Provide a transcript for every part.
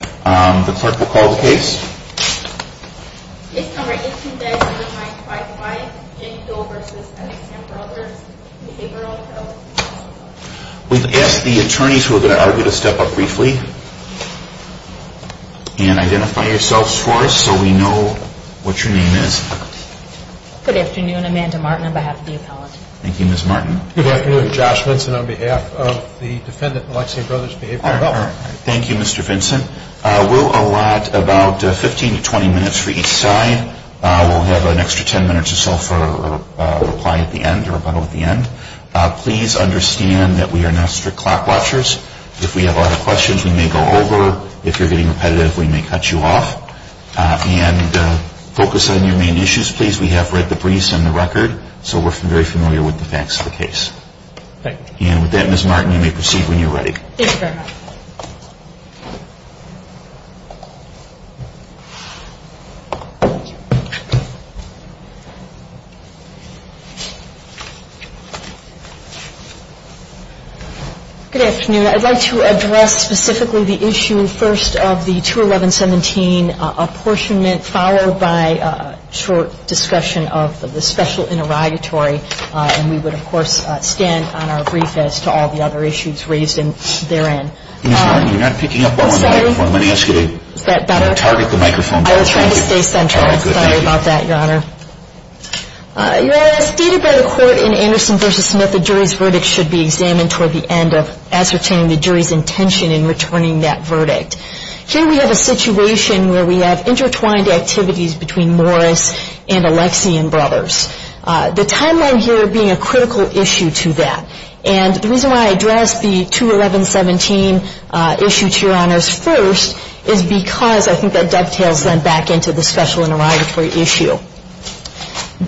We've asked the attorneys who are going to argue to step up briefly and identify yourselves for us so we know what your name is. Good afternoon, Amanda Martin on behalf of the appellate. Thank you Ms. Martin. Good afternoon, Josh Vinson on behalf of the defendant, Alexian Brothers Behavioral Health. Thank you, Mr. Vinson. We'll allot about 15 to 20 minutes for each side. We'll have an extra 10 minutes or so for reply at the end or rebuttal at the end. Please understand that we are not strict clock watchers. If we have a lot of questions, we may go over. If you're getting repetitive, we may cut you off. And focus on your main issues, please. We have read the briefs and the record, so we're very familiar with the facts of the case. Thank you. And with that, Ms. Martin, you may proceed when you're ready. Thank you very much. Good afternoon. I'd like to address specifically the issue first of the 211-17 apportionment, followed by a short discussion of the special interrogatory. And we would, of course, stand on our brief as to all the other issues raised therein. Ms. Martin, you're not picking up well on the microphone. I'm going to ask you to target the microphone. I was trying to stay central. I'm sorry about that, Your Honor. Your Honor, as stated by the court in Anderson v. Smith, the jury's verdict should be examined toward the end of ascertaining the jury's intention in returning that verdict. Here we have a situation where we have intertwined activities between Morris and Alexian Brothers. The timeline here being a critical issue to that. And the reason why I addressed the 211-17 issue to Your Honors first is because I think that dovetails then back into the special interrogatory issue.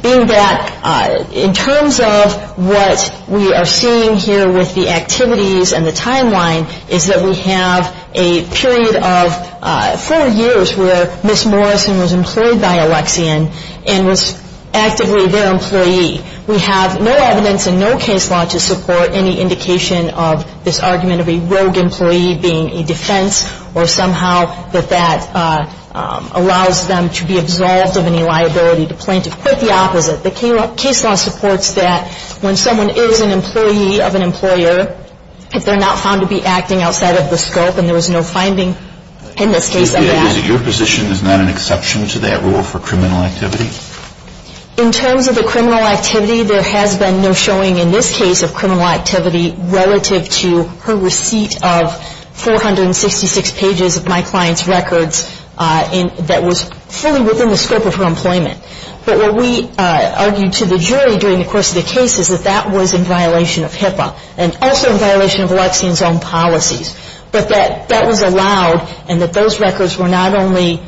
Being that in terms of what we are seeing here with the activities and the timeline is that we have a period of four years where Ms. Morrison was employed by Alexian and was actively their employee. We have no evidence and no case law to support any indication of this argument of a rogue employee being a defense or somehow that that allows them to be absolved of any liability to plaintiff. Quite the opposite. The case law supports that when someone is an employee of an employer, if they're not found to be acting outside of the scope and there was no finding in this case of that. Your position is not an exception to that rule for criminal activity? In terms of the criminal activity, there has been no showing in this case of criminal activity relative to her receipt of 466 pages of my client's records that was fully within the scope of her employment. But what we argued to the jury during the course of the case is that that was in violation of HIPAA. And also in violation of Alexian's own policies. But that that was allowed and that those records were not only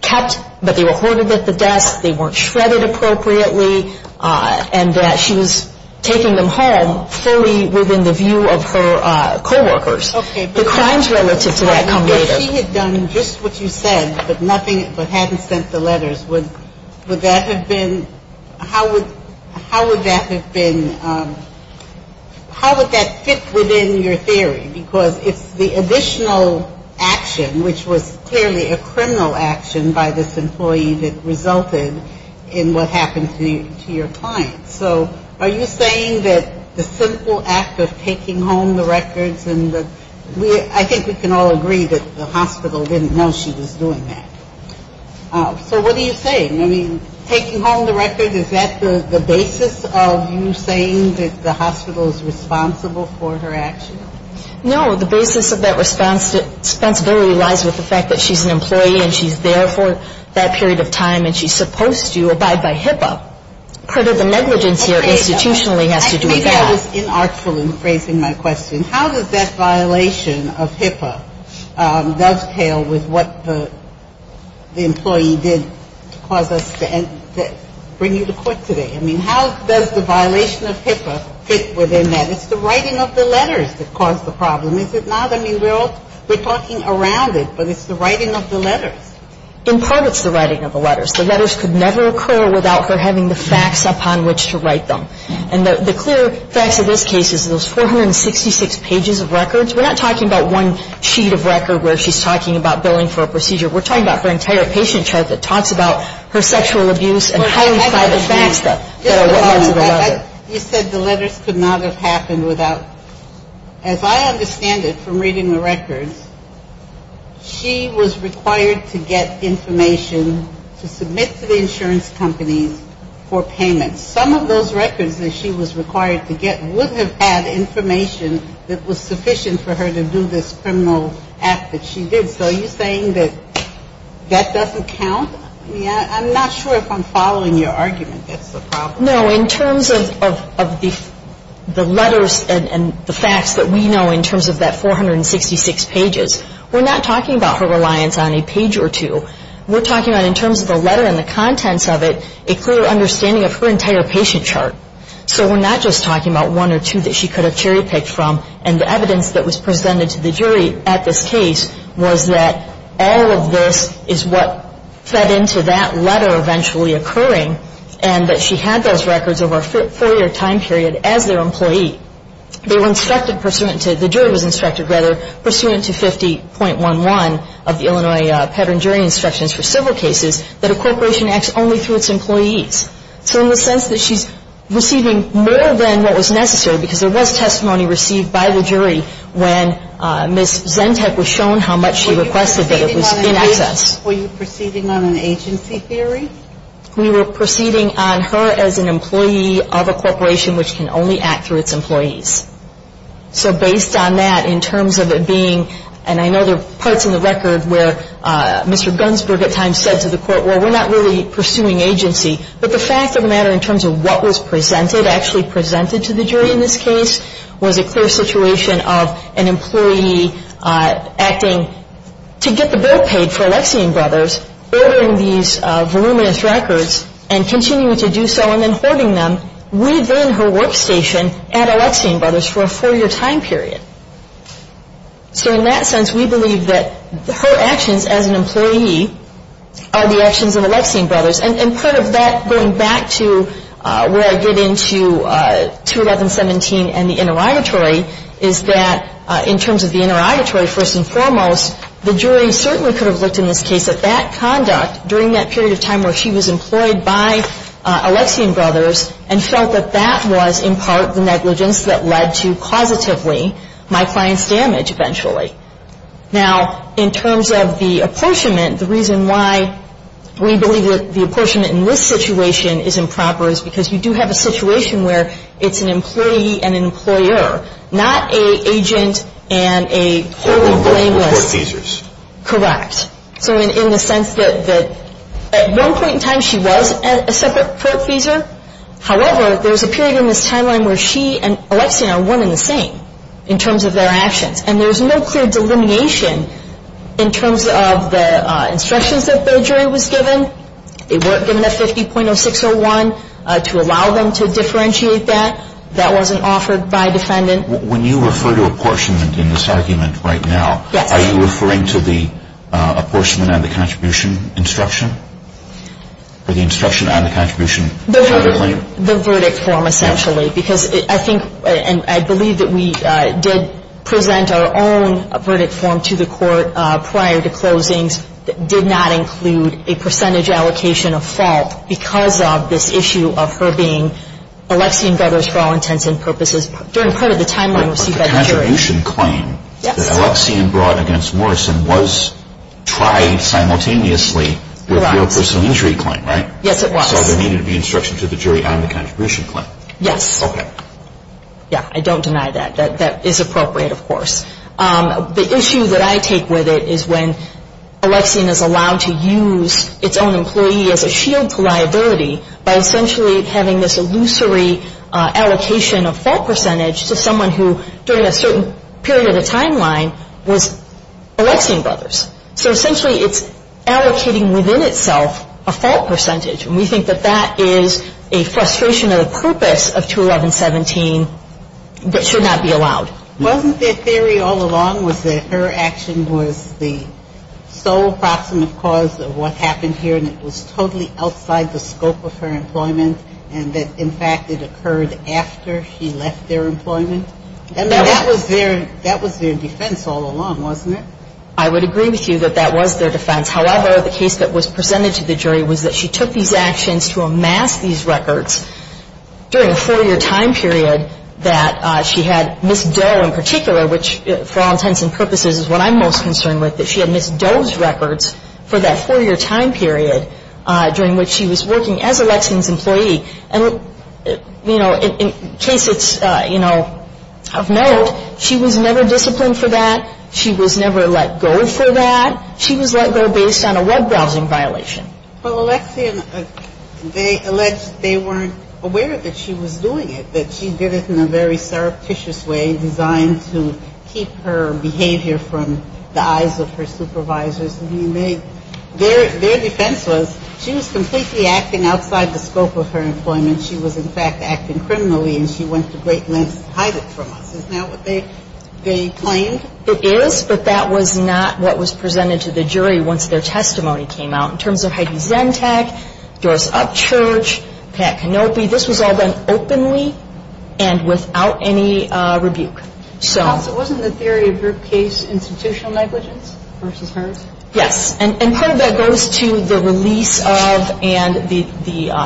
kept, but they were hoarded at the desk, they weren't shredded appropriately, and that she was taking them home fully within the view of her coworkers. If she had done just what you said, but nothing, but hadn't sent the letters, would that have been, how would that have been, how would that fit within your theory? Because it's the additional action, which was clearly a criminal action by this employee that resulted in what happened to your client. So are you saying that the simple act of taking home the records, I think we can all agree that the hospital didn't know she was doing that. So what are you saying? I mean, taking home the records, is that the basis of you saying that the hospital is responsible for her action? No, the basis of that responsibility lies with the fact that she's an employee and she's there for that period of time and she's supposed to abide by HIPAA. Part of the negligence here institutionally has to do with that. I was inartful in phrasing my question. How does that violation of HIPAA dovetail with what the employee did to cause us to bring you to court today? I mean, how does the violation of HIPAA fit within that? It's the writing of the letters that caused the problem, is it not? I mean, we're talking around it, but it's the writing of the letters. In part, it's the writing of the letters. The letters could never occur without her having the facts upon which to write them. And the clear facts of this case is those 466 pages of records. We're not talking about one sheet of record where she's talking about billing for a procedure. We're talking about her entire patient chart that talks about her sexual abuse and highly private things that are written into the record. You said the letters could not have happened without. As I understand it from reading the records, she was required to get information to submit to the insurance companies for payments. Some of those records that she was required to get would have had information that was sufficient for her to do this criminal act that she did. So are you saying that that doesn't count? I mean, I'm not sure if I'm following your argument that's the problem. No, in terms of the letters and the facts that we know in terms of that 466 pages, we're not talking about her reliance on a page or two. We're talking about in terms of the letter and the contents of it, a clear understanding of her entire patient chart. So we're not just talking about one or two that she could have cherry-picked from. And the evidence that was presented to the jury at this case was that all of this is what fed into that letter eventually occurring and that she had those records over a four-year time period as their employee. The jury was instructed, rather, pursuant to 50.11 of the Illinois Petering Jury Instructions for Civil Cases, that a corporation acts only through its employees. So in the sense that she's receiving more than what was necessary, because there was testimony received by the jury when Ms. Zentech was shown how much she requested that it was in excess. Were you proceeding on an agency theory? We were proceeding on her as an employee of a corporation which can only act through its employees. So based on that, in terms of it being, and I know there are parts in the record where Mr. Gunsberg at times said to the court, well, we're not really pursuing agency. But the fact of the matter in terms of what was presented, actually presented to the jury in this case, was a clear situation of an employee acting to get the bill paid for Alexian Brothers, ordering these voluminous records and continuing to do so and then hoarding them within her workstation at Alexian Brothers for a four-year time period. So in that sense, we believe that her actions as an employee are the actions of Alexian Brothers. And part of that, going back to where I get into 211-17 and the interrogatory, is that in terms of the interrogatory, first and foremost, the jury certainly could have looked in this case at that conduct during that period of time where she was employed by Alexian Brothers and felt that that was in part the negligence that led to, causatively, my client's damage eventually. Now, in terms of the apportionment, the reason why we believe that the apportionment in this situation is improper is because you do have a situation where it's an employee and an employer, not an agent and a wholly blameless. Correct. So in the sense that at one point in time, she was a separate court-feeser. However, there's a period in this timeline where she and Alexian are one and the same in terms of their actions. And there's no clear delineation in terms of the instructions that the jury was given. They weren't given a 50.0601 to allow them to differentiate that. That wasn't offered by a defendant. When you refer to apportionment in this argument right now, are you referring to the apportionment on the contribution instruction or the instruction on the contribution? The verdict form, essentially. Because I think and I believe that we did present our own verdict form to the court prior to closings that did not include a percentage allocation of fault because of this issue of her being Alexian Brothers for all intents and purposes. During part of the timeline, we received that from the jury. But the contribution claim that Alexian brought against Morrison was tried simultaneously with your personal injury claim, right? Yes, it was. So there needed to be instruction to the jury on the contribution claim. Yes. Okay. Yeah, I don't deny that. That is appropriate, of course. The issue that I take with it is when Alexian is allowed to use its own employee as a shield to liability by essentially having this illusory allocation of fault percentage to someone who, during a certain period of the timeline, was Alexian Brothers. So essentially, it's allocating within itself a fault percentage. And we think that that is a frustration of the purpose of 211-17 that should not be allowed. Wasn't their theory all along was that her action was the sole proximate cause of what happened here and it was totally outside the scope of her employment and that, in fact, it occurred after she left their employment? And that was their defense all along, wasn't it? I would agree with you that that was their defense. However, the case that was presented to the jury was that she took these actions to amass these records during a four-year time period that she had Ms. Doe in particular, which for all intents and purposes is what I'm most concerned with, that she had Ms. Doe's records for that four-year time period during which she was working as Alexian's employee. And, you know, in case it's, you know, of note, she was never disciplined for that. She was never let go for that. She was let go based on a web browsing violation. Well, Alexian, they alleged they weren't aware that she was doing it, that she did it in a very surreptitious way designed to keep her behavior from the eyes of her supervisors. Their defense was she was completely acting outside the scope of her employment. She was, in fact, acting criminally and she went to great lengths to hide it from us. Is that what they claimed? It is, but that was not what was presented to the jury once their testimony came out. In terms of Heidi Zentag, Doris Upchurch, Pat Kenopi, this was all done openly and without any rebuke. Counsel, wasn't the theory of group case institutional negligence versus hers? Yes, and part of that goes to the release of and the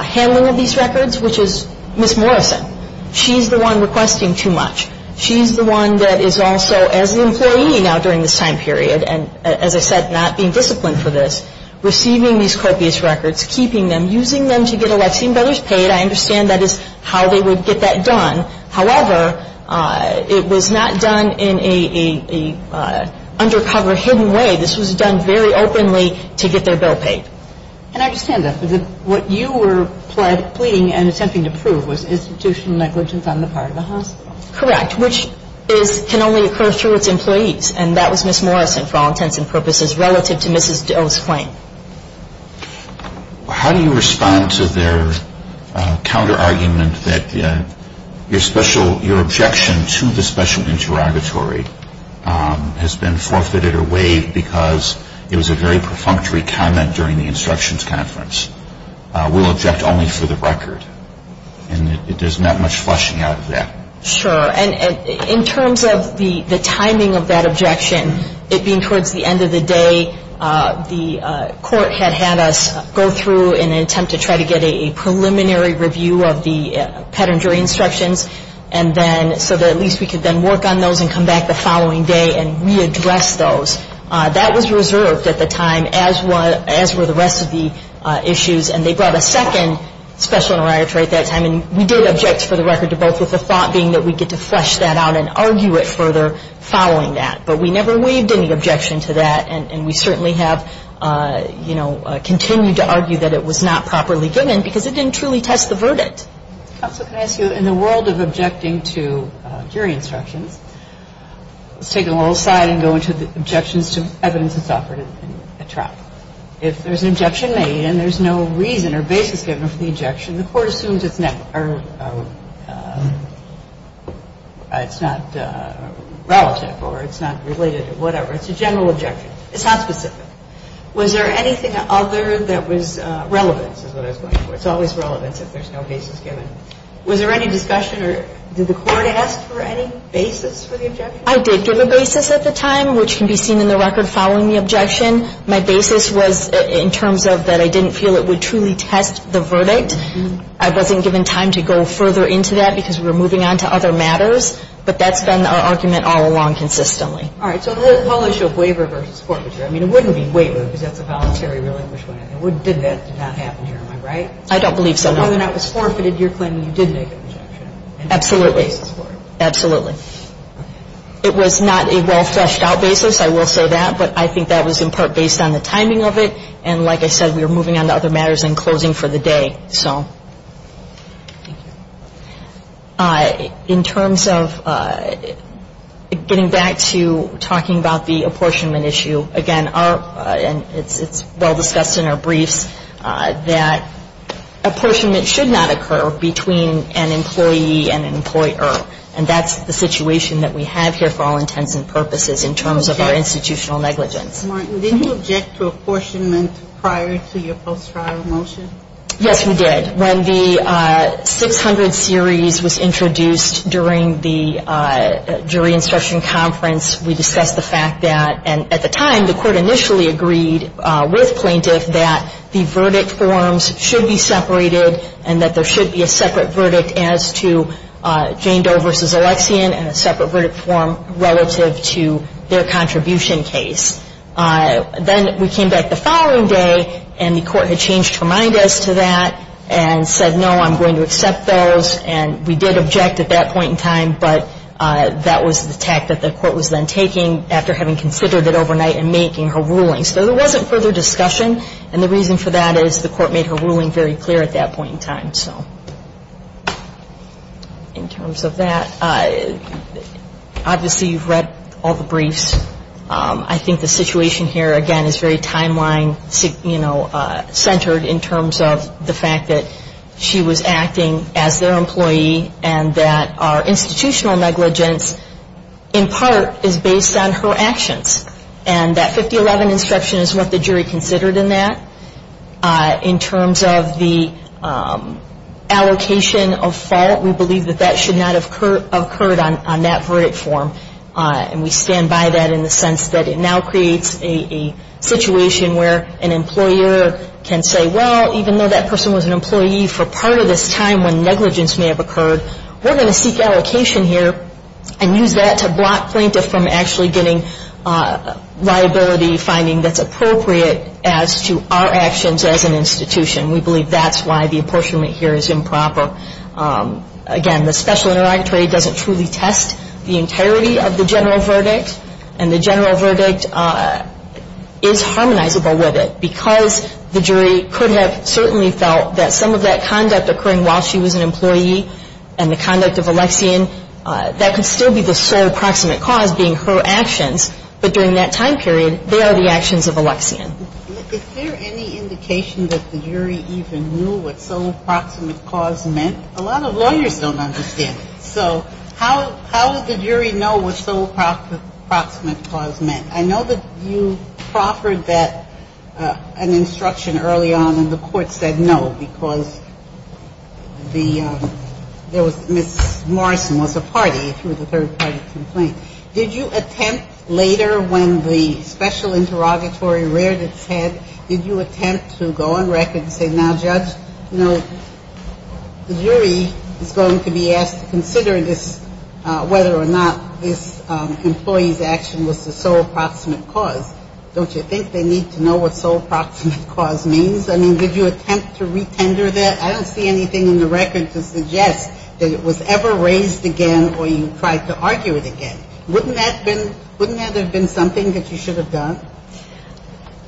handling of these records, which is Ms. Morrison. She's the one requesting too much. She's the one that is also, as an employee now during this time period, and, as I said, not being disciplined for this, receiving these copious records, keeping them, using them to get Alexian Brothers paid. I understand that is how they would get that done. However, it was not done in an undercover, hidden way. This was done very openly to get their bill paid. And I understand that. But what you were pleading and attempting to prove was institutional negligence on the part of the hospital. Correct, which can only occur through its employees. And that was Ms. Morrison, for all intents and purposes, relative to Ms. O's claim. How do you respond to their counterargument that your objection to the special interrogatory has been forfeited or waived because it was a very perfunctory comment during the instructions conference? We'll object only for the record. And there's not much fleshing out of that. Sure. And in terms of the timing of that objection, it being towards the end of the day, the court had had us go through an attempt to try to get a preliminary review of the pedantry instructions so that at least we could then work on those and come back the following day and readdress those. That was reserved at the time, as were the rest of the issues. And they brought a second special interrogatory at that time. And we did object, for the record, to both, with the thought being that we'd get to flesh that out and argue it further following that. But we never waived any objection to that. And we certainly have, you know, continued to argue that it was not properly given because it didn't truly test the verdict. Counsel, can I ask you, in the world of objecting to jury instructions, let's take it all aside and go into the objections to evidence that's offered in a trial. If there's an objection made and there's no reason or basis given for the objection, the court assumes it's not relative or it's not related or whatever. It's a general objection. It's not specific. Was there anything other that was relevant, is what I was going for. It's always relevant if there's no basis given. Was there any discussion or did the court ask for any basis for the objection? I did give a basis at the time, which can be seen in the record following the objection. My basis was in terms of that I didn't feel it would truly test the verdict. I wasn't given time to go further into that because we were moving on to other matters. But that's been our argument all along consistently. All right. So the whole issue of waiver versus forfeiture. I mean, it wouldn't be waiver because that's a voluntary relinquishment. It would be that did not happen, am I right? I don't believe so, no. Other than that was forfeited, you're claiming you did make an objection. Absolutely. Absolutely. It was not a well-fleshed-out basis, I will say that. But I think that was in part based on the timing of it. And like I said, we were moving on to other matters and closing for the day. So in terms of getting back to talking about the apportionment issue, again, it's well discussed in our briefs that apportionment should not occur between an employee and an employer. And that's the situation that we have here for all intents and purposes in terms of our institutional negligence. Martin, did you object to apportionment prior to your post-trial motion? Yes, we did. When the 600 series was introduced during the jury instruction conference, we discussed the fact that, and at the time the court initially agreed with plaintiff that the verdict forms should be separated and that there should be a separate verdict as to Jane Doe versus Alexian and a separate verdict form relative to their contribution case. Then we came back the following day and the court had changed her mind as to that and said, no, I'm going to accept those. And we did object at that point in time, but that was the tact that the court was then taking after having considered it overnight and making her ruling. So there wasn't further discussion. And the reason for that is the court made her ruling very clear at that point in time. In terms of that, obviously you've read all the briefs. I think the situation here, again, is very timeline-centered in terms of the fact that she was acting as their employee and that our institutional negligence in part is based on her actions. And that 5011 instruction is what the jury considered in that. In terms of the allocation of fault, we believe that that should not have occurred on that verdict form. And we stand by that in the sense that it now creates a situation where an employer can say, well, even though that person was an employee for part of this time when negligence may have occurred, we're going to seek allocation here and use that to block plaintiff from actually getting liability finding that's appropriate as to our actions as an institution. We believe that's why the apportionment here is improper. Again, the special interrogatory doesn't truly test the entirety of the general verdict, and the general verdict is harmonizable with it because the jury could have certainly felt that some of that conduct occurring while she was an employee and the conduct of Alexian, that could still be the sole proximate cause being her actions. But during that time period, they are the actions of Alexian. Is there any indication that the jury even knew what sole proximate cause meant? A lot of lawyers don't understand it. So how did the jury know what sole proximate cause meant? I know that you proffered that, an instruction early on, and the court said no because there was, Ms. Morrison was a party through the third party complaint. Did you attempt later when the special interrogatory reared its head, did you attempt to go on record and say, now, judge, you know, the jury is going to be asked to consider this, whether or not this employee's action was the sole proximate cause. Don't you think they need to know what sole proximate cause means? I mean, did you attempt to retender that? I don't see anything in the record to suggest that it was ever raised again or you tried to argue it again. Wouldn't that have been something that you should have done?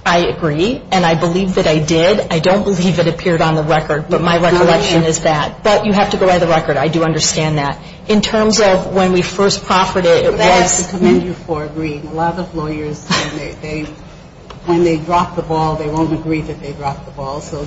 I agree, and I believe that I did. I don't believe it appeared on the record, but my recollection is that. But you have to go by the record. I do understand that. In terms of when we first proffered it, it was ‑‑ I commend you for agreeing. A lot of lawyers, when they drop the ball, they won't agree that they dropped the ball. So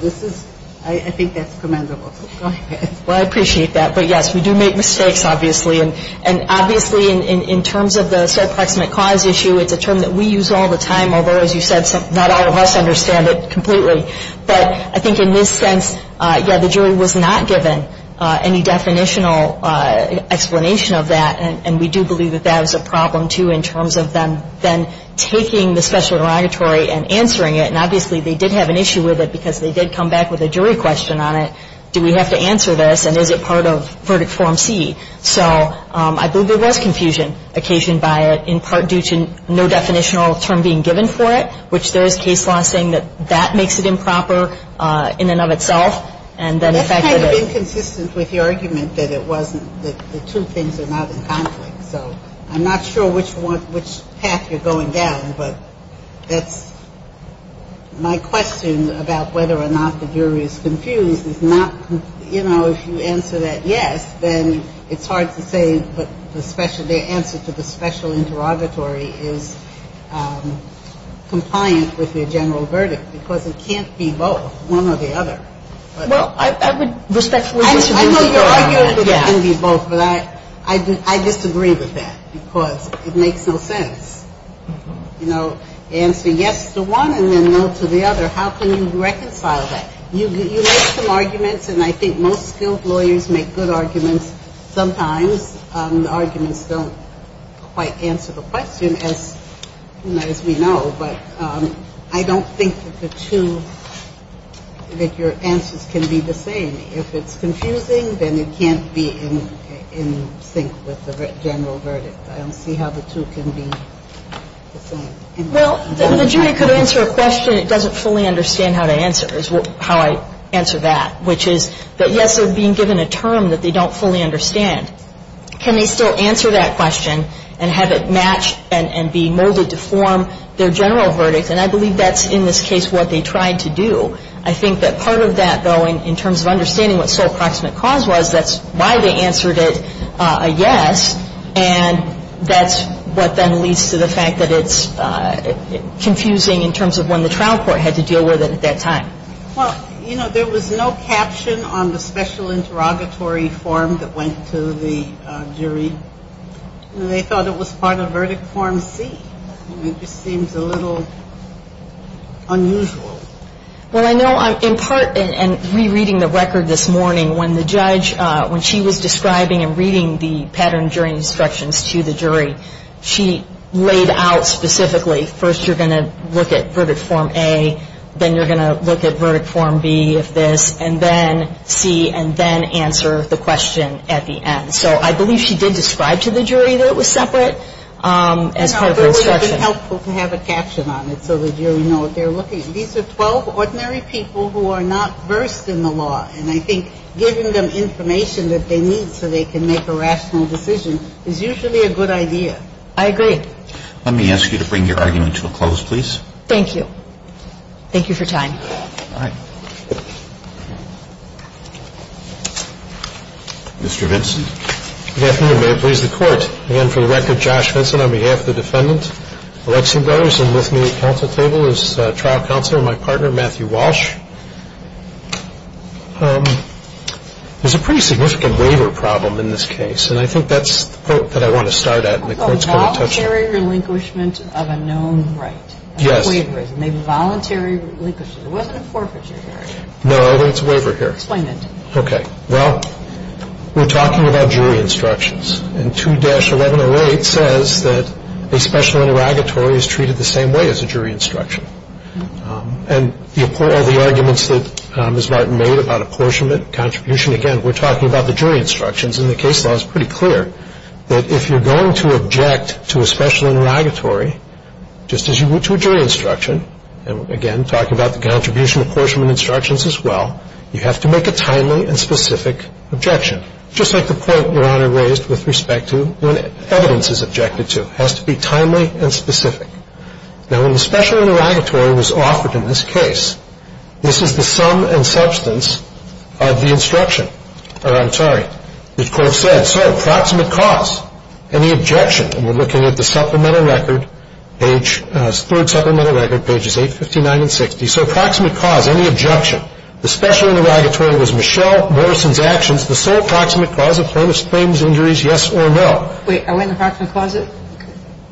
I think that's commendable. Go ahead. Well, I appreciate that. But, yes, we do make mistakes, obviously. And, obviously, in terms of the sole proximate cause issue, it's a term that we use all the time, although, as you said, not all of us understand it completely. But I think in this sense, yeah, the jury was not given any definitional explanation of that, and we do believe that that was a problem, too, in terms of them then taking the special derogatory and answering it. And, obviously, they did have an issue with it because they did come back with a jury question on it. Do we have to answer this, and is it part of verdict form C? So I believe there was confusion occasioned by it, in part due to no definitional term being given for it, which there is case law saying that that makes it improper in and of itself. And then the fact that it ‑‑ That's kind of inconsistent with your argument that it wasn't, that the two things are not in conflict. So I'm not sure which path you're going down, but that's my question about whether or not the jury is confused. It's not, you know, if you answer that yes, then it's hard to say the answer to the special interrogatory is compliant with your general verdict because it can't be both, one or the other. I know you're arguing that it can be both, but I disagree with that because it makes no sense. You know, answer yes to one and then no to the other. How can you reconcile that? You make some arguments, and I think most skilled lawyers make good arguments. Sometimes the arguments don't quite answer the question as we know, but I don't think that the two, that your answers can be the same. If it's confusing, then it can't be in sync with the general verdict. I don't see how the two can be the same. Well, the jury could answer a question it doesn't fully understand how to answer is how I answer that, which is that yes, they're being given a term that they don't fully understand. Can they still answer that question and have it match and be molded to form their general verdict? And I believe that's in this case what they tried to do. I think that part of that, though, in terms of understanding what sole proximate cause was, that's why they answered it a yes, and that's what then leads to the fact that it's confusing in terms of when the trial court had to deal with it at that time. Well, you know, there was no caption on the special interrogatory form that went to the jury. They thought it was part of verdict form C. It just seems a little unusual. Well, I know in part, and rereading the record this morning, when the judge, when she was describing and reading the pattern during instructions to the jury, she laid out specifically first you're going to look at verdict form A, then you're going to look at verdict form B of this, and then C, and then answer the question at the end. So I believe she did describe to the jury that it was separate as part of the instruction. It's helpful to have a caption on it so the jury know what they're looking at. These are 12 ordinary people who are not versed in the law, and I think giving them information that they need so they can make a rational decision is usually a good idea. I agree. Let me ask you to bring your argument to a close, please. Thank you. Thank you for your time. All right. Mr. Vinson. Good afternoon. May it please the Court. Again, for the record, Josh Vinson on behalf of the defendant. Alexi Vinson with me at the counsel table is trial counselor, my partner, Matthew Walsh. There's a pretty significant waiver problem in this case, and I think that's the part that I want to start at. Voluntary relinquishment of a known right. Yes. A waiver, maybe voluntary relinquishment. It wasn't a forfeiture, Gary. No, it's a waiver here. Explain it. Okay. Well, we're talking about jury instructions, and 2-1108 says that a special interrogatory is treated the same way as a jury instruction. And all the arguments that Ms. Martin made about apportionment, contribution, again, we're talking about the jury instructions, and the case law is pretty clear that if you're going to object to a special interrogatory, just as you would to a jury instruction, and, again, talking about the contribution apportionment instructions as well, you have to make a timely and specific objection, just like the point Your Honor raised with respect to when evidence is objected to. It has to be timely and specific. Now, when the special interrogatory was offered in this case, this is the sum and substance of the instruction. I'm sorry. It, of course, said, so, approximate cause, any objection, and we're looking at the supplemental record, page, third supplemental record, pages 8, 59, and 60. So, approximate cause, any objection, the special interrogatory was Michelle Morrison's actions, the sole approximate cause of plaintiff's claims, injuries, yes or no. Wait. Are we on the approximate cause, or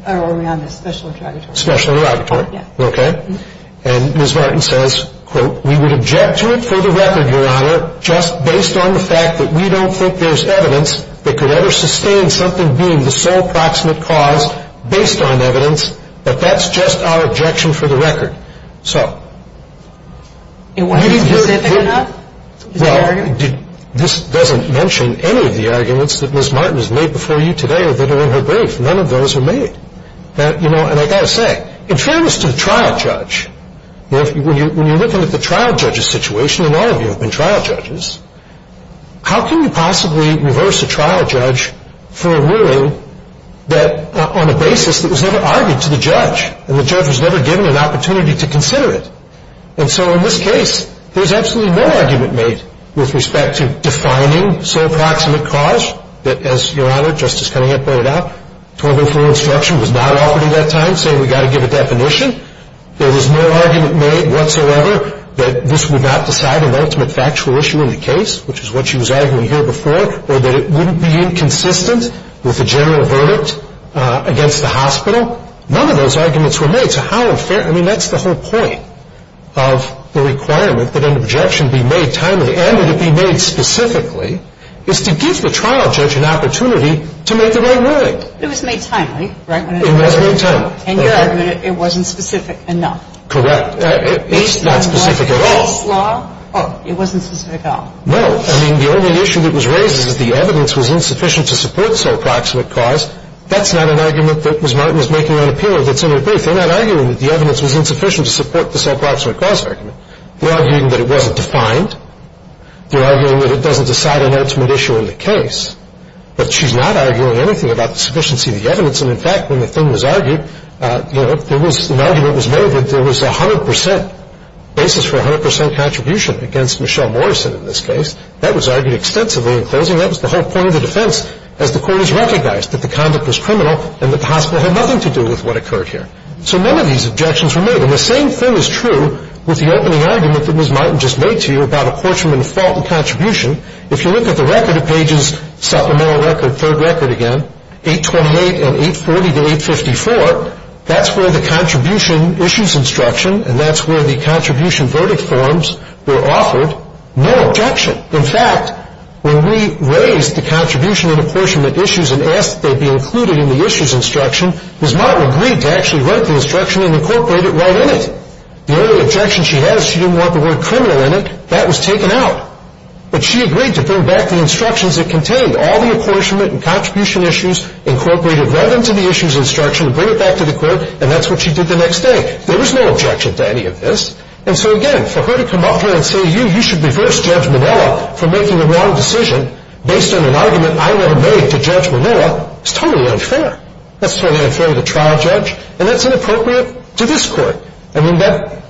are we on the special interrogatory? Special interrogatory. Yeah. Okay. And Ms. Martin says, quote, we would object to it for the record, Your Honor, just based on the fact that we don't think there's evidence that could ever sustain something being the sole approximate cause based on evidence, but that's just our objection for the record. So. It wasn't specific enough? Well, this doesn't mention any of the arguments that Ms. Martin has made before you today or that are in her brief. None of those are made. You know, and I've got to say, in fairness to the trial judge, when you're looking at the trial judge's situation, and all of you have been trial judges, how can you possibly reverse a trial judge for a ruling that, on a basis that was never argued to the judge, and the judge was never given an opportunity to consider it? And so in this case, there's absolutely no argument made with respect to defining sole approximate cause, that, as Your Honor, Justice Cunningham pointed out, 204 instruction was not offered at that time saying we've got to give a definition. There was no argument made whatsoever that this would not decide an ultimate factual issue in the case, which is what she was arguing here before, or that it wouldn't be inconsistent with the general verdict against the hospital. None of those arguments were made. So how unfair, I mean, that's the whole point of the requirement that an objection be made timely and that it be made specifically is to give the trial judge an opportunity to make the right ruling. It was made timely, right? It was made timely. And your argument, it wasn't specific enough. Correct. Based on what? It's not specific at all. Oh, it wasn't specific at all. No. I mean, the only issue that was raised is the evidence was insufficient to support sole approximate cause. That's not an argument that Ms. Martin was making on appeal that's in her brief. They're not arguing that the evidence was insufficient to support the sole approximate cause argument. They're arguing that it wasn't defined. They're arguing that it doesn't decide an ultimate issue in the case. But she's not arguing anything about the sufficiency of the evidence. And, in fact, when the thing was argued, you know, an argument was made that there was a 100 percent basis for a 100 percent contribution against Michelle Morrison in this case. That was argued extensively in closing. That was the whole point of the defense as the court has recognized that the conduct was criminal and that the hospital had nothing to do with what occurred here. So none of these objections were made. And the same thing is true with the opening argument that Ms. Martin just made to you about a Quarterman fault in contribution. If you look at the record of pages supplemental record, third record again, 828 and 840 to 854, that's where the contribution issues instruction and that's where the contribution verdict forms were offered. No objection. In fact, when we raised the contribution and apportionment issues and asked that they be included in the issues instruction, Ms. Martin agreed to actually write the instruction and incorporate it right in it. The only objection she has, she didn't want the word criminal in it. That was taken out. But she agreed to bring back the instructions that contained all the apportionment and contribution issues incorporated right into the issues instruction and bring it back to the court, and that's what she did the next day. There was no objection to any of this. And so, again, for her to come up here and say, you, you should reverse Judge Manoa for making the wrong decision based on an argument I would have made to Judge Manoa is totally unfair. That's totally unfair to the trial judge, and that's inappropriate to this court. I mean,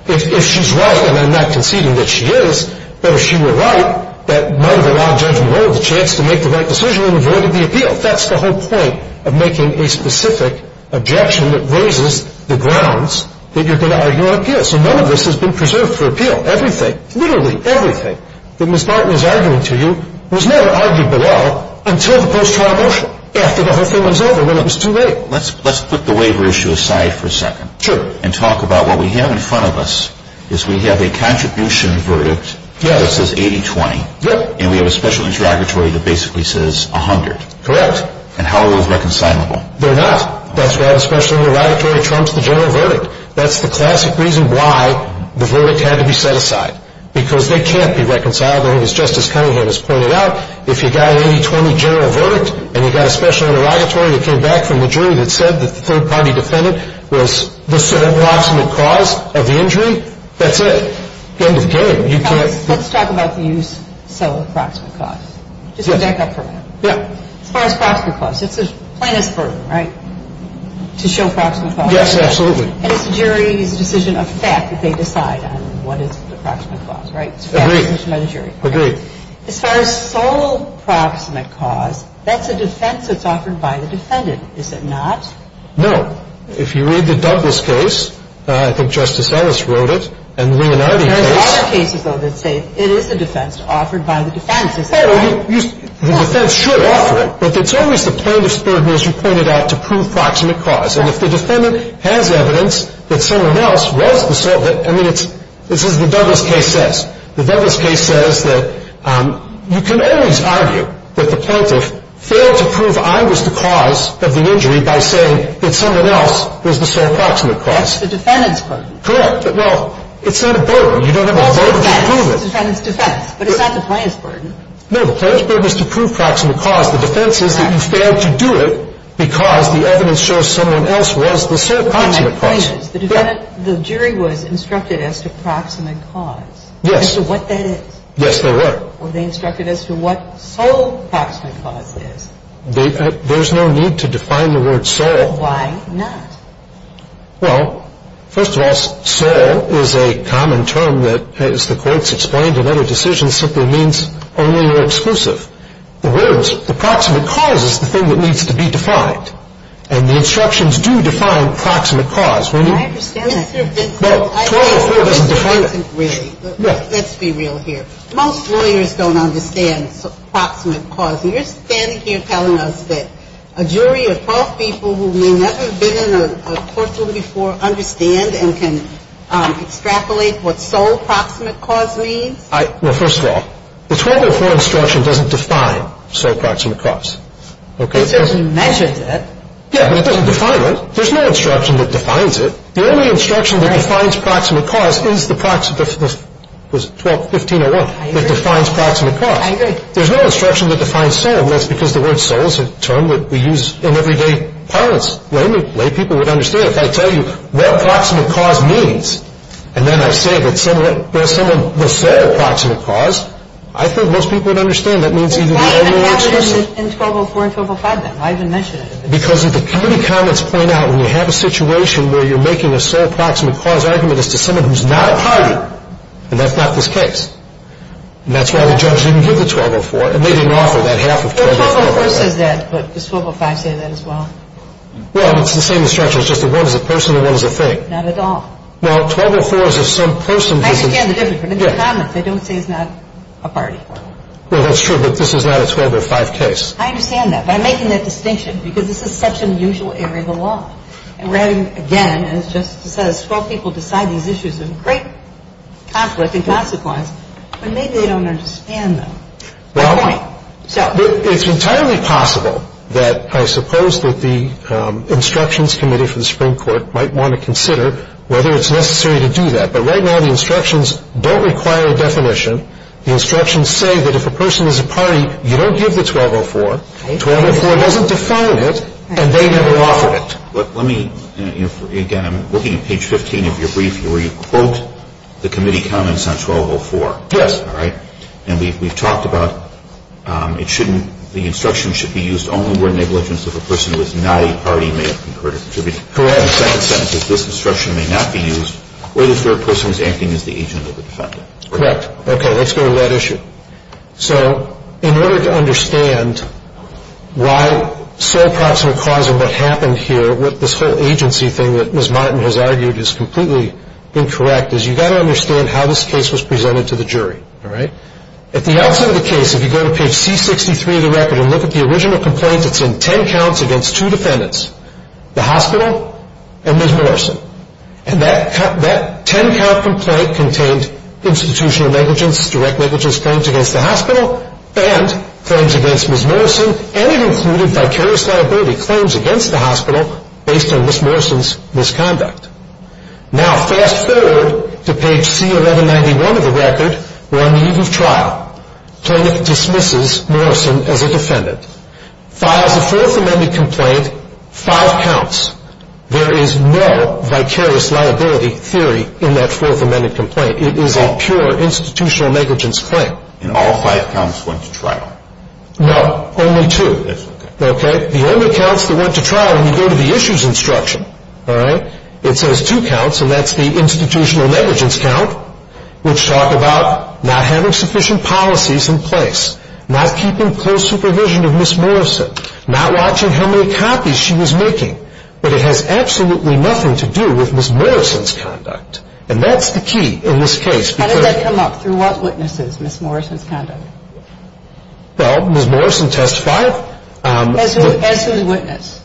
if she's right, and I'm not conceding that she is, but if she were right, that might have allowed Judge Manoa the chance to make the right decision and avoided the appeal. That's the whole point of making a specific objection that raises the grounds that you're going to argue an appeal. Yes, and none of this has been preserved for appeal. Everything, literally everything that Ms. Barton is arguing to you was never argued below until the post-trial motion, after the whole thing was over, when it was too late. Let's put the waiver issue aside for a second. Sure. And talk about what we have in front of us is we have a contribution verdict that says 80-20. Yes. And we have a special interrogatory that basically says 100. Correct. And how are those reconcilable? They're not. That's why the special interrogatory trumps the general verdict. That's the classic reason why the verdict had to be set aside, because they can't be reconcilable. And as Justice Cunningham has pointed out, if you've got an 80-20 general verdict and you've got a special interrogatory that came back from the jury that said that the third-party defendant was the sole approximate cause of the injury, that's it. End of game. Let's talk about the use, sole approximate cause. Just to back up for a minute. Yeah. As far as approximate cause, it's as plain as fur, right? To show approximate cause. Yes, absolutely. And it's the jury's decision of fact that they decide on what is the approximate cause, right? Agreed. It's a decision by the jury. Agreed. As far as sole approximate cause, that's a defense that's offered by the defendant, is it not? No. If you read the Douglas case, I think Justice Ellis wrote it, and the Leonardi case. There are other cases, though, that say it is a defense offered by the defense, is it not? The defense should offer it. But it's always the plaintiff's burden, as you pointed out, to prove approximate cause. And if the defendant has evidence that someone else was the sole, I mean, this is what the Douglas case says. The Douglas case says that you can always argue that the plaintiff failed to prove I was the cause of the injury by saying that someone else was the sole approximate cause. That's the defendant's burden. Correct. But, well, it's not a burden. You don't have a burden to prove it. It's the defendant's defense. But it's not the plaintiff's burden. No, the plaintiff's burden is to prove approximate cause. The defense is that you failed to do it because the evidence shows someone else was the sole approximate cause. The jury was instructed as to approximate cause. Yes. As to what that is. Yes, they were. Were they instructed as to what sole approximate cause is? There's no need to define the word sole. Why not? Well, first of all, sole is a common term that, as the courts explained in other decisions, simply means only or exclusive. The words, the proximate cause is the thing that needs to be defined. And the instructions do define proximate cause. I understand that. But 1204 doesn't define it. Let's be real here. Most lawyers don't understand proximate cause. And you're standing here telling us that a jury of 12 people who may never have been in a courtroom before understand and can extrapolate what sole proximate cause means? Well, first of all, the 1204 instruction doesn't define sole proximate cause. It says you measured it. Yes, but it doesn't define it. There's no instruction that defines it. The only instruction that defines proximate cause is the 12-15-01. I agree. It defines proximate cause. I agree. There's no instruction that defines sole, and that's because the word sole is a term that we use in everyday parlance. If I tell you what proximate cause means, and then I say that there's some of the sole proximate cause, I think most people would understand that means either the only or exclusive. Why even have it in 1204 and 1205, then? Why even mention it? Because the committee comments point out when you have a situation where you're making a sole proximate cause argument as to someone who's not a party, and that's not this case. And that's why the judge didn't give the 1204, and they didn't offer that half of 1204. Well, 1204 says that, but does 1205 say that as well? Well, it's the same instruction. It's just that one is a person and one is a thing. Not at all. Well, 1204 is if some person doesn't. I understand the difference. And they comment. They don't say it's not a party. Well, that's true, but this is not a 1205 case. I understand that. But I'm making that distinction because this is such an unusual area of the law. And we're having, again, as Justice says, 12 people decide these issues of great conflict and consequence, but maybe they don't understand them. Well, it's entirely possible that I suppose that the Instructions Committee for the Supreme Court might want to consider whether it's necessary to do that. But right now the instructions don't require a definition. The instructions say that if a person is a party, you don't give the 1204. 1204 doesn't define it, and they never offered it. Let me, again, I'm looking at page 15 of your brief where you quote the committee comments on 1204. Yes. All right. And we've talked about it shouldn't, the instruction should be used only where negligence of a person who is not a party may occur to contribute. Correct. The second sentence is this instruction may not be used where the third person is acting as the agent or the defendant. Correct. Okay. Let's go to that issue. So in order to understand why sole proximate cause of what happened here with this whole agency thing that Ms. Martin has argued is completely incorrect is you've got to understand how this case was presented to the jury. All right. At the outset of the case, if you go to page C63 of the record and look at the original complaints, it's in ten counts against two defendants, the hospital and Ms. Morrison. And that ten-count complaint contained institutional negligence, direct negligence claims against the hospital and claims against Ms. Morrison, and it included vicarious liability claims against the hospital based on Ms. Morrison's misconduct. Now fast-forward to page C1191 of the record where on the eve of trial, plaintiff dismisses Morrison as a defendant, files a Fourth Amendment complaint, five counts. There is no vicarious liability theory in that Fourth Amendment complaint. It is a pure institutional negligence claim. And all five counts went to trial. No, only two. Okay. The only counts that went to trial when you go to the issues instruction, all right, it says two counts, and that's the institutional negligence count, which talked about not having sufficient policies in place, not keeping close supervision of Ms. Morrison, not watching how many copies she was making. But it has absolutely nothing to do with Ms. Morrison's conduct. And that's the key in this case. How did that come up? Through what witnesses, Ms. Morrison's conduct? Well, Ms. Morrison testified. As whose witness?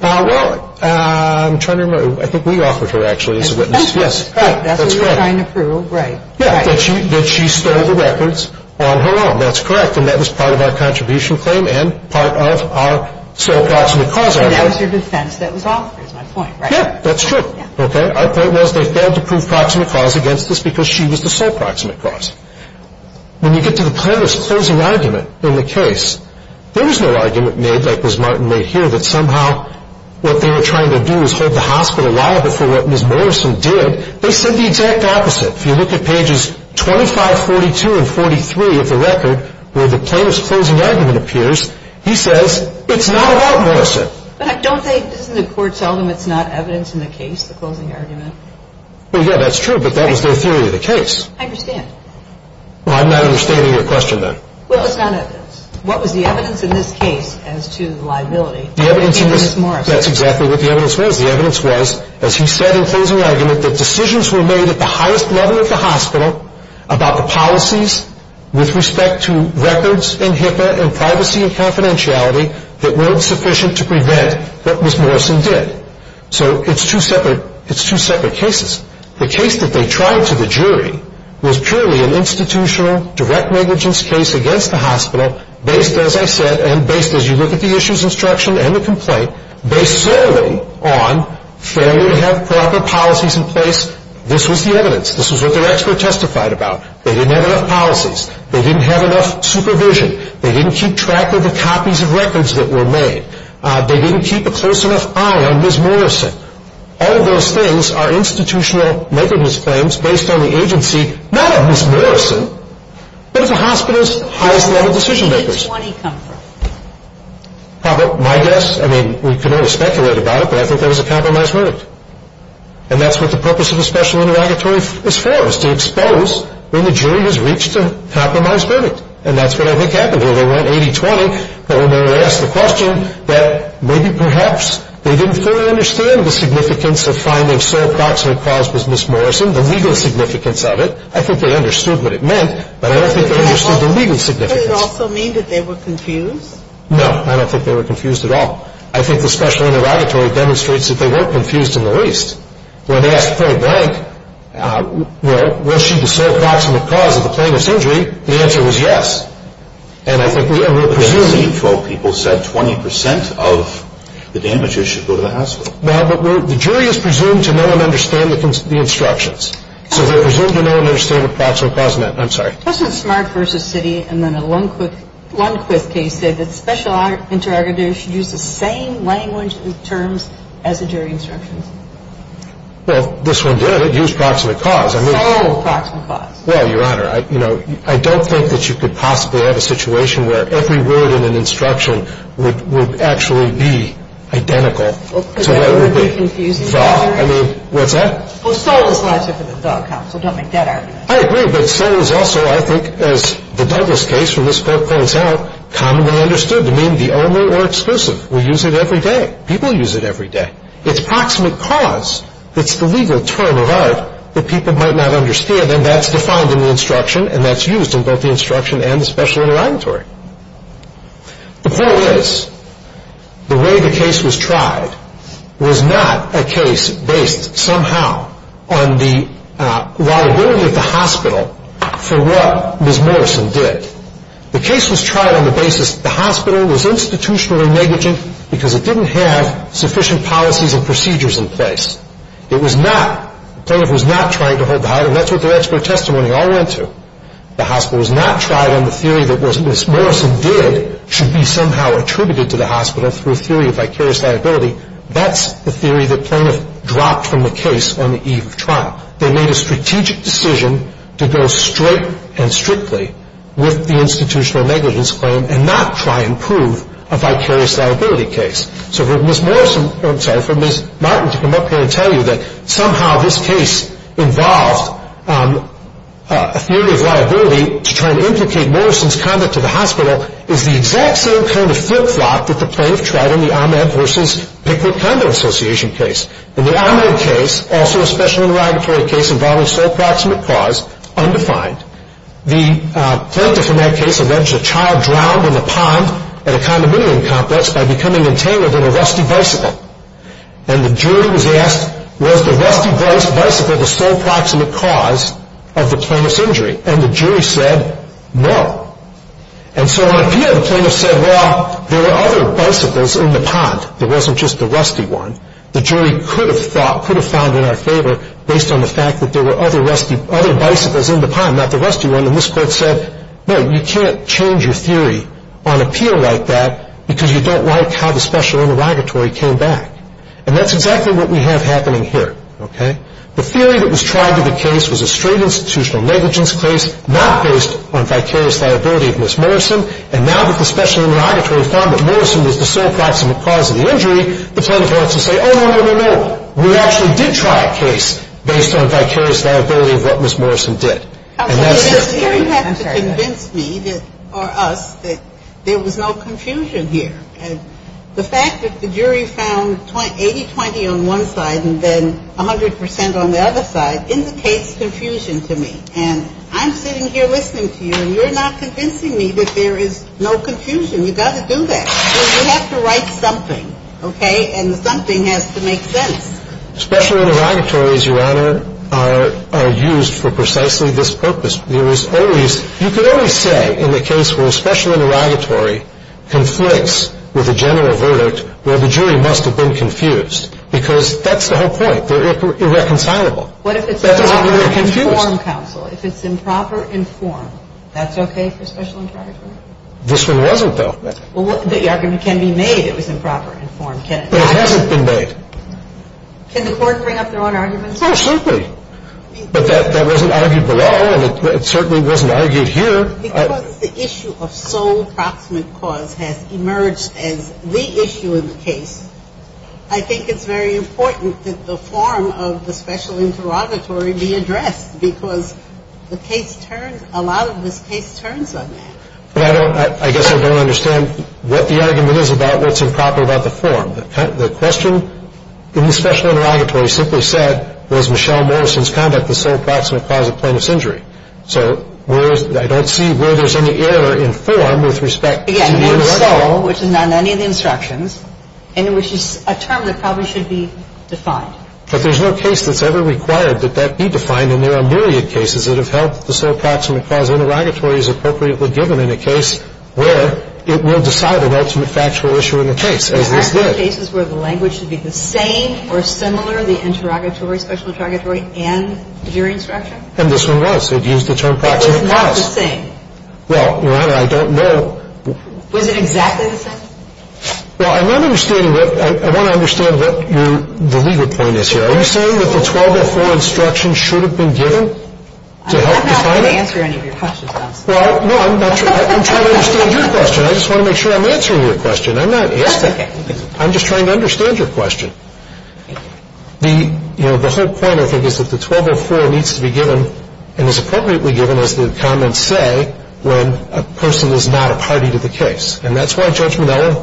Well, I'm trying to remember. I think we offered her, actually, as a witness. As a witness, right. That's what you're trying to prove, right. Yeah, that she stole the records on her own. That's correct. And that was part of our contribution claim and part of our sole proximate cause argument. And that was your defense that was offered, is my point, right? Yeah, that's true. Okay. Our point was they failed to prove proximate cause against us because she was the sole proximate cause. When you get to the plaintiff's closing argument in the case, there was no argument made like Ms. Martin made here that somehow what they were trying to do was hold the hospital liable for what Ms. Morrison did. They said the exact opposite. If you look at pages 2542 and 43 of the record where the plaintiff's closing argument appears, he says it's not about Morrison. But doesn't the court tell them it's not evidence in the case, the closing argument? Yeah, that's true, but that was their theory of the case. I understand. Well, I'm not understanding your question, then. Well, it's not evidence. What was the evidence in this case as to the liability? That's exactly what the evidence was. The evidence was, as he said in closing argument, that decisions were made at the highest level at the hospital about the policies with respect to records in HIPAA and privacy and confidentiality that weren't sufficient to prevent what Ms. Morrison did. So it's two separate cases. The case that they tried to the jury was purely an institutional direct negligence case against the hospital based, as I said, and based, as you look at the issues instruction and the complaint, based solely on failure to have proper policies in place. This was the evidence. This was what their expert testified about. They didn't have enough policies. They didn't have enough supervision. They didn't keep track of the copies of records that were made. They didn't keep a close enough eye on Ms. Morrison. All of those things are institutional negligence claims based on the agency, not of Ms. Morrison, but of the hospital's highest-level decision-makers. Where did the 20 come from? My guess? I mean, we can only speculate about it, but I think that was a compromised verdict. And that's what the purpose of a special interrogatory is for, is to expose when the jury has reached a compromised verdict. And that's what I think happened here. They went 80-20, but when they were asked the question, that maybe perhaps they didn't fully understand the significance of finding sole proximate cause was Ms. Morrison, the legal significance of it. I think they understood what it meant, but I don't think they understood the legal significance. Does it also mean that they were confused? No, I don't think they were confused at all. I think the special interrogatory demonstrates that they were confused in the least. When they asked Cora Blank, you know, was she the sole proximate cause of the plaintiff's injury, the answer was yes. And I think we are presuming. But then the C12 people said 20% of the damages should go to the hospital. Well, but the jury is presumed to know and understand the instructions. So they're presumed to know and understand what proximate cause meant. I'm sorry. President Smart versus Citi, and then a Lundquist case, said that special interrogators should use the same language and terms as the jury instructions. Well, this one did. It used proximate cause. I mean. Sole proximate cause. Well, Your Honor, you know, I don't think that you could possibly have a situation where every word in an instruction would actually be identical. Because that would be confusing. I mean, what's that? Well, sole is logic of the dog, counsel. Don't make that argument. I agree. But sole is also, I think, as the Douglas case from this court points out, commonly understood to mean the only or exclusive. We use it every day. People use it every day. It's proximate cause that's the legal term of art that people might not understand, and then that's defined in the instruction, and that's used in both the instruction and the special interrogatory. The point is the way the case was tried was not a case based somehow on the liability of the hospital for what Ms. Morrison did. The case was tried on the basis the hospital was institutionally negligent because it didn't have sufficient policies and procedures in place. It was not. The plaintiff was not trying to hold the high, and that's what their expert testimony all went to. The hospital was not tried on the theory that what Ms. Morrison did should be somehow attributed to the hospital through a theory of vicarious liability. That's the theory that plaintiff dropped from the case on the eve of trial. They made a strategic decision to go straight and strictly with the institutional negligence claim and not try and prove a vicarious liability case. So for Ms. Martin to come up here and tell you that somehow this case involved a theory of liability to try and implicate Morrison's conduct to the hospital is the exact same kind of flip-flop that the plaintiff tried in the Ahmed versus Pickett Conduct Association case. In the Ahmed case, also a special interrogatory case involving sole proximate cause, undefined. The plaintiff in that case alleged a child drowned in the pond at a condominium complex by becoming entangled in a rusty bicycle. And the jury was asked, was the rusty bicycle the sole proximate cause of the plaintiff's injury? And the jury said, no. And so on appeal, the plaintiff said, well, there were other bicycles in the pond. It wasn't just the rusty one. The jury could have found in our favor, based on the fact that there were other bicycles in the pond, not the rusty one, and this court said, no, you can't change your theory on appeal like that because you don't like how the special interrogatory came back. And that's exactly what we have happening here, okay? The theory that was tried in the case was a straight institutional negligence case, not based on vicarious liability of Ms. Morrison. And now that the special interrogatory found that Morrison was the sole proximate cause of the injury, the plaintiff wants to say, oh, no, no, no, no. We actually did try a case based on vicarious liability of what Ms. Morrison did. The jury has to convince me or us that there was no confusion here. And the fact that the jury found 80-20 on one side and then 100 percent on the other side indicates confusion to me. And I'm sitting here listening to you, and you're not convincing me that there is no confusion. You've got to do that. You have to write something, okay? And something has to make sense. Special interrogatories, Your Honor, are used for precisely this purpose. You could always say in the case where a special interrogatory conflicts with a general verdict, well, the jury must have been confused because that's the whole point. They're irreconcilable. That doesn't mean they're confused. What if it's a proper informed counsel? If it's improper informed, that's okay for special interrogatory? This one wasn't, though. Well, the argument can be made it was improper informed. But it hasn't been made. Can the court bring up their own arguments? Oh, certainly. But that wasn't argued below, and it certainly wasn't argued here. Because the issue of sole proximate cause has emerged as the issue in the case, I think it's very important that the form of the special interrogatory be addressed because the case turns, a lot of this case turns on that. But I guess I don't understand what the argument is about what's improper about the form. The question in the special interrogatory simply said, was Michelle Morrison's conduct the sole proximate cause of plaintiff's injury? So I don't see where there's any error in form with respect to the original. Again, not so, which is not in any of the instructions, and which is a term that probably should be defined. But there's no case that's ever required that that be defined, And there are myriad cases that have held the sole proximate cause interrogatory is appropriately given in a case where it will decide an ultimate factual issue in the case, as this did. Aren't there cases where the language should be the same or similar, the interrogatory, special interrogatory, and jury instruction? And this one was. It used the term proximate cause. It was not the same. Well, Your Honor, I don't know. Was it exactly the same? Well, I'm not understanding that. I want to understand what your, the legal point is here. Are you saying that the 1204 instruction should have been given to help define it? I'm not going to answer any of your questions. Well, no, I'm trying to understand your question. I just want to make sure I'm answering your question. I'm not asking. That's okay. I'm just trying to understand your question. Thank you. The whole point, I think, is that the 1204 needs to be given and is appropriately given, as the comments say, when a person is not a party to the case. And that's why Judge Minella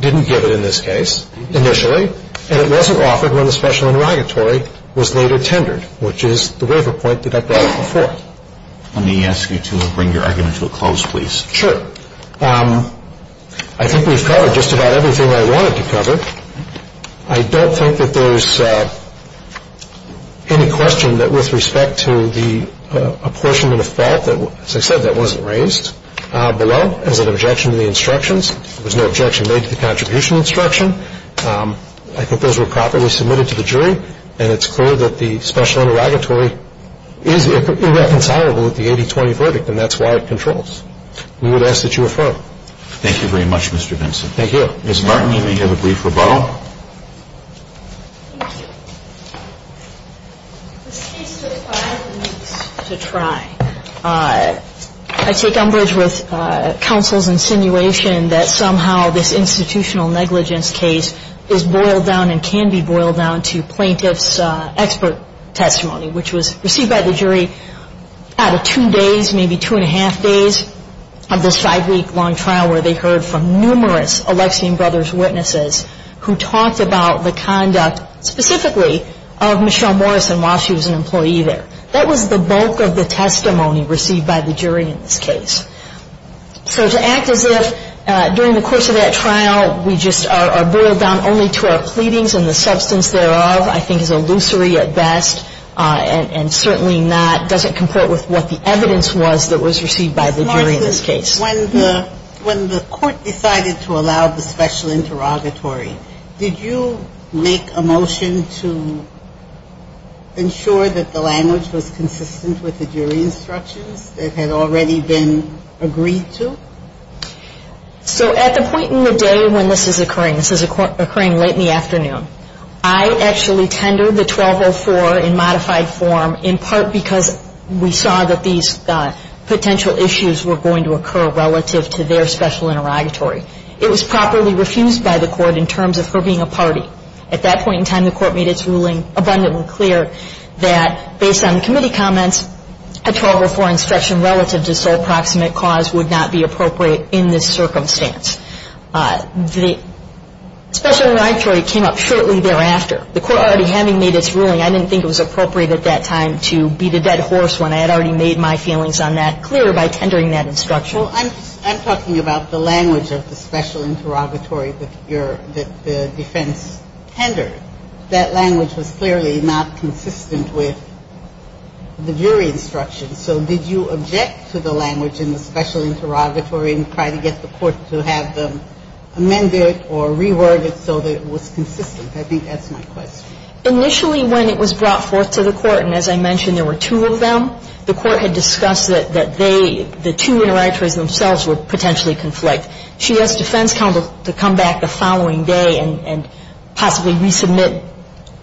didn't give it in this case initially, and it wasn't offered when the special interrogatory was later tendered, which is the waiver point that I brought up before. Let me ask you to bring your argument to a close, please. Sure. I think we've covered just about everything I wanted to cover. I don't think that there's any question that with respect to the apportionment of fault that, as I said, that wasn't raised below as an objection to the instructions. There was no objection made to the contribution instruction. I think those were properly submitted to the jury, and it's clear that the special interrogatory is irreconcilable with the 80-20 verdict, and that's why it controls. We would ask that you refer. Thank you very much, Mr. Benson. Thank you. Ms. Martin, you may give a brief rebuttal. This case took five weeks to try. I take umbrage with counsel's insinuation that somehow this institutional negligence case is boiled down and can be boiled down to plaintiff's expert testimony, which was received by the jury out of two days, maybe two-and-a-half days, of this five-week long trial where they heard from numerous Alexian Brothers witnesses who talked about the conduct specifically of Michelle Morrison while she was an employee there. That was the bulk of the testimony received by the jury in this case. So to act as if during the course of that trial we just are boiled down only to our pleadings and the substance thereof I think is illusory at best and certainly doesn't comport with what the evidence was that was received by the jury in this case. Ms. Martin, when the court decided to allow the special interrogatory, did you make a motion to ensure that the language was consistent with the jury instructions that had already been agreed to? So at the point in the day when this is occurring, this is occurring late in the afternoon, I actually tendered the 1204 in modified form in part because we saw that these potential issues were going to occur relative to their special interrogatory. It was properly refused by the court in terms of her being a party. At that point in time, the court made its ruling abundantly clear that based on committee comments, a 1204 instruction relative to sole proximate cause would not be appropriate in this circumstance. The special interrogatory came up shortly thereafter. The court already having made its ruling, I didn't think it was appropriate at that time to beat a dead horse when I had already made my feelings on that clear by tendering that instruction. Well, I'm talking about the language of the special interrogatory that the defense tendered. That language was clearly not consistent with the jury instructions. So did you object to the language in the special interrogatory and try to get the court to have them amend it or reword it so that it was consistent? I think that's my question. Initially, when it was brought forth to the court, and as I mentioned, there were two of them, the court had discussed that they, the two interrogatories themselves would potentially conflict. She asked defense counsel to come back the following day and possibly resubmit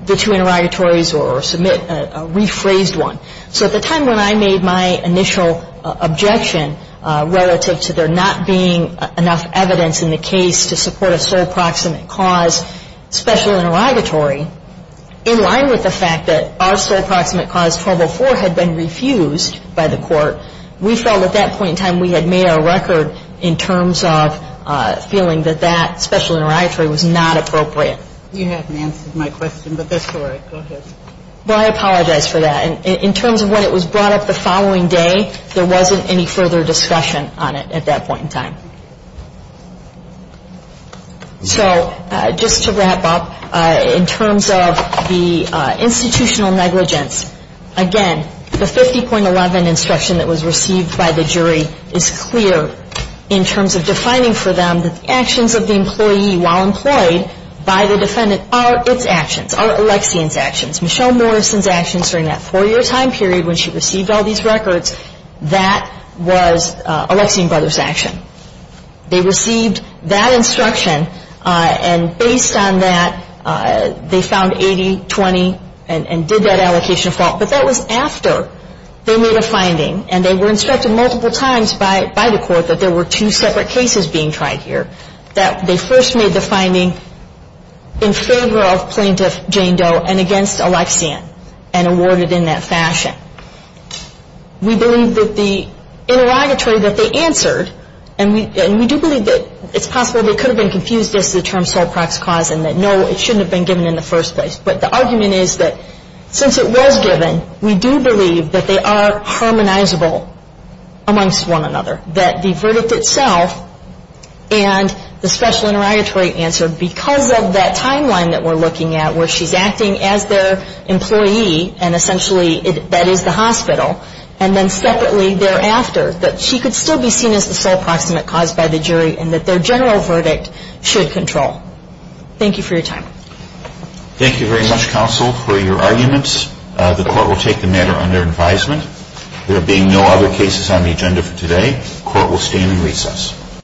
the two interrogatories or submit a rephrased one. So at the time when I made my initial objection relative to there not being enough evidence in the case to support a sole proximate cause special interrogatory, in line with the fact that our sole proximate cause 1204 had been refused by the court, we felt at that point in time we had made our record in terms of feeling that that special interrogatory was not appropriate. You haven't answered my question, but that's all right. Go ahead. Well, I apologize for that. In terms of when it was brought up the following day, there wasn't any further discussion on it at that point in time. So just to wrap up, in terms of the institutional negligence, again, the 50.11 instruction that was received by the jury is clear in terms of defining for them that the actions of the employee while employed by the defendant are its actions, are Alexian's actions. Michelle Morrison's actions during that four-year time period when she received all these records, that was Alexian Brothers' action. They received that instruction, and based on that, they found 80-20 and did that allocation of fault. But that was after they made a finding, and they were instructed multiple times by the court that there were two separate cases being tried here, that they first made the finding in favor of Plaintiff Jane Doe and against Alexian and awarded in that fashion. We believe that the interrogatory that they answered, and we do believe that it's possible they could have been confused as to the term sole-prax cause and that no, it shouldn't have been given in the first place. But the argument is that since it was given, we do believe that they are harmonizable amongst one another, that the verdict itself and the special interrogatory answer, because of that timeline that we're looking at where she's acting as their employee, and essentially that is the hospital, and then separately thereafter, that she could still be seen as the sole proximate cause by the jury and that their general verdict should control. Thank you for your time. Thank you very much, counsel, for your arguments. The court will take the matter under advisement. There being no other cases on the agenda for today, the court will stand in recess.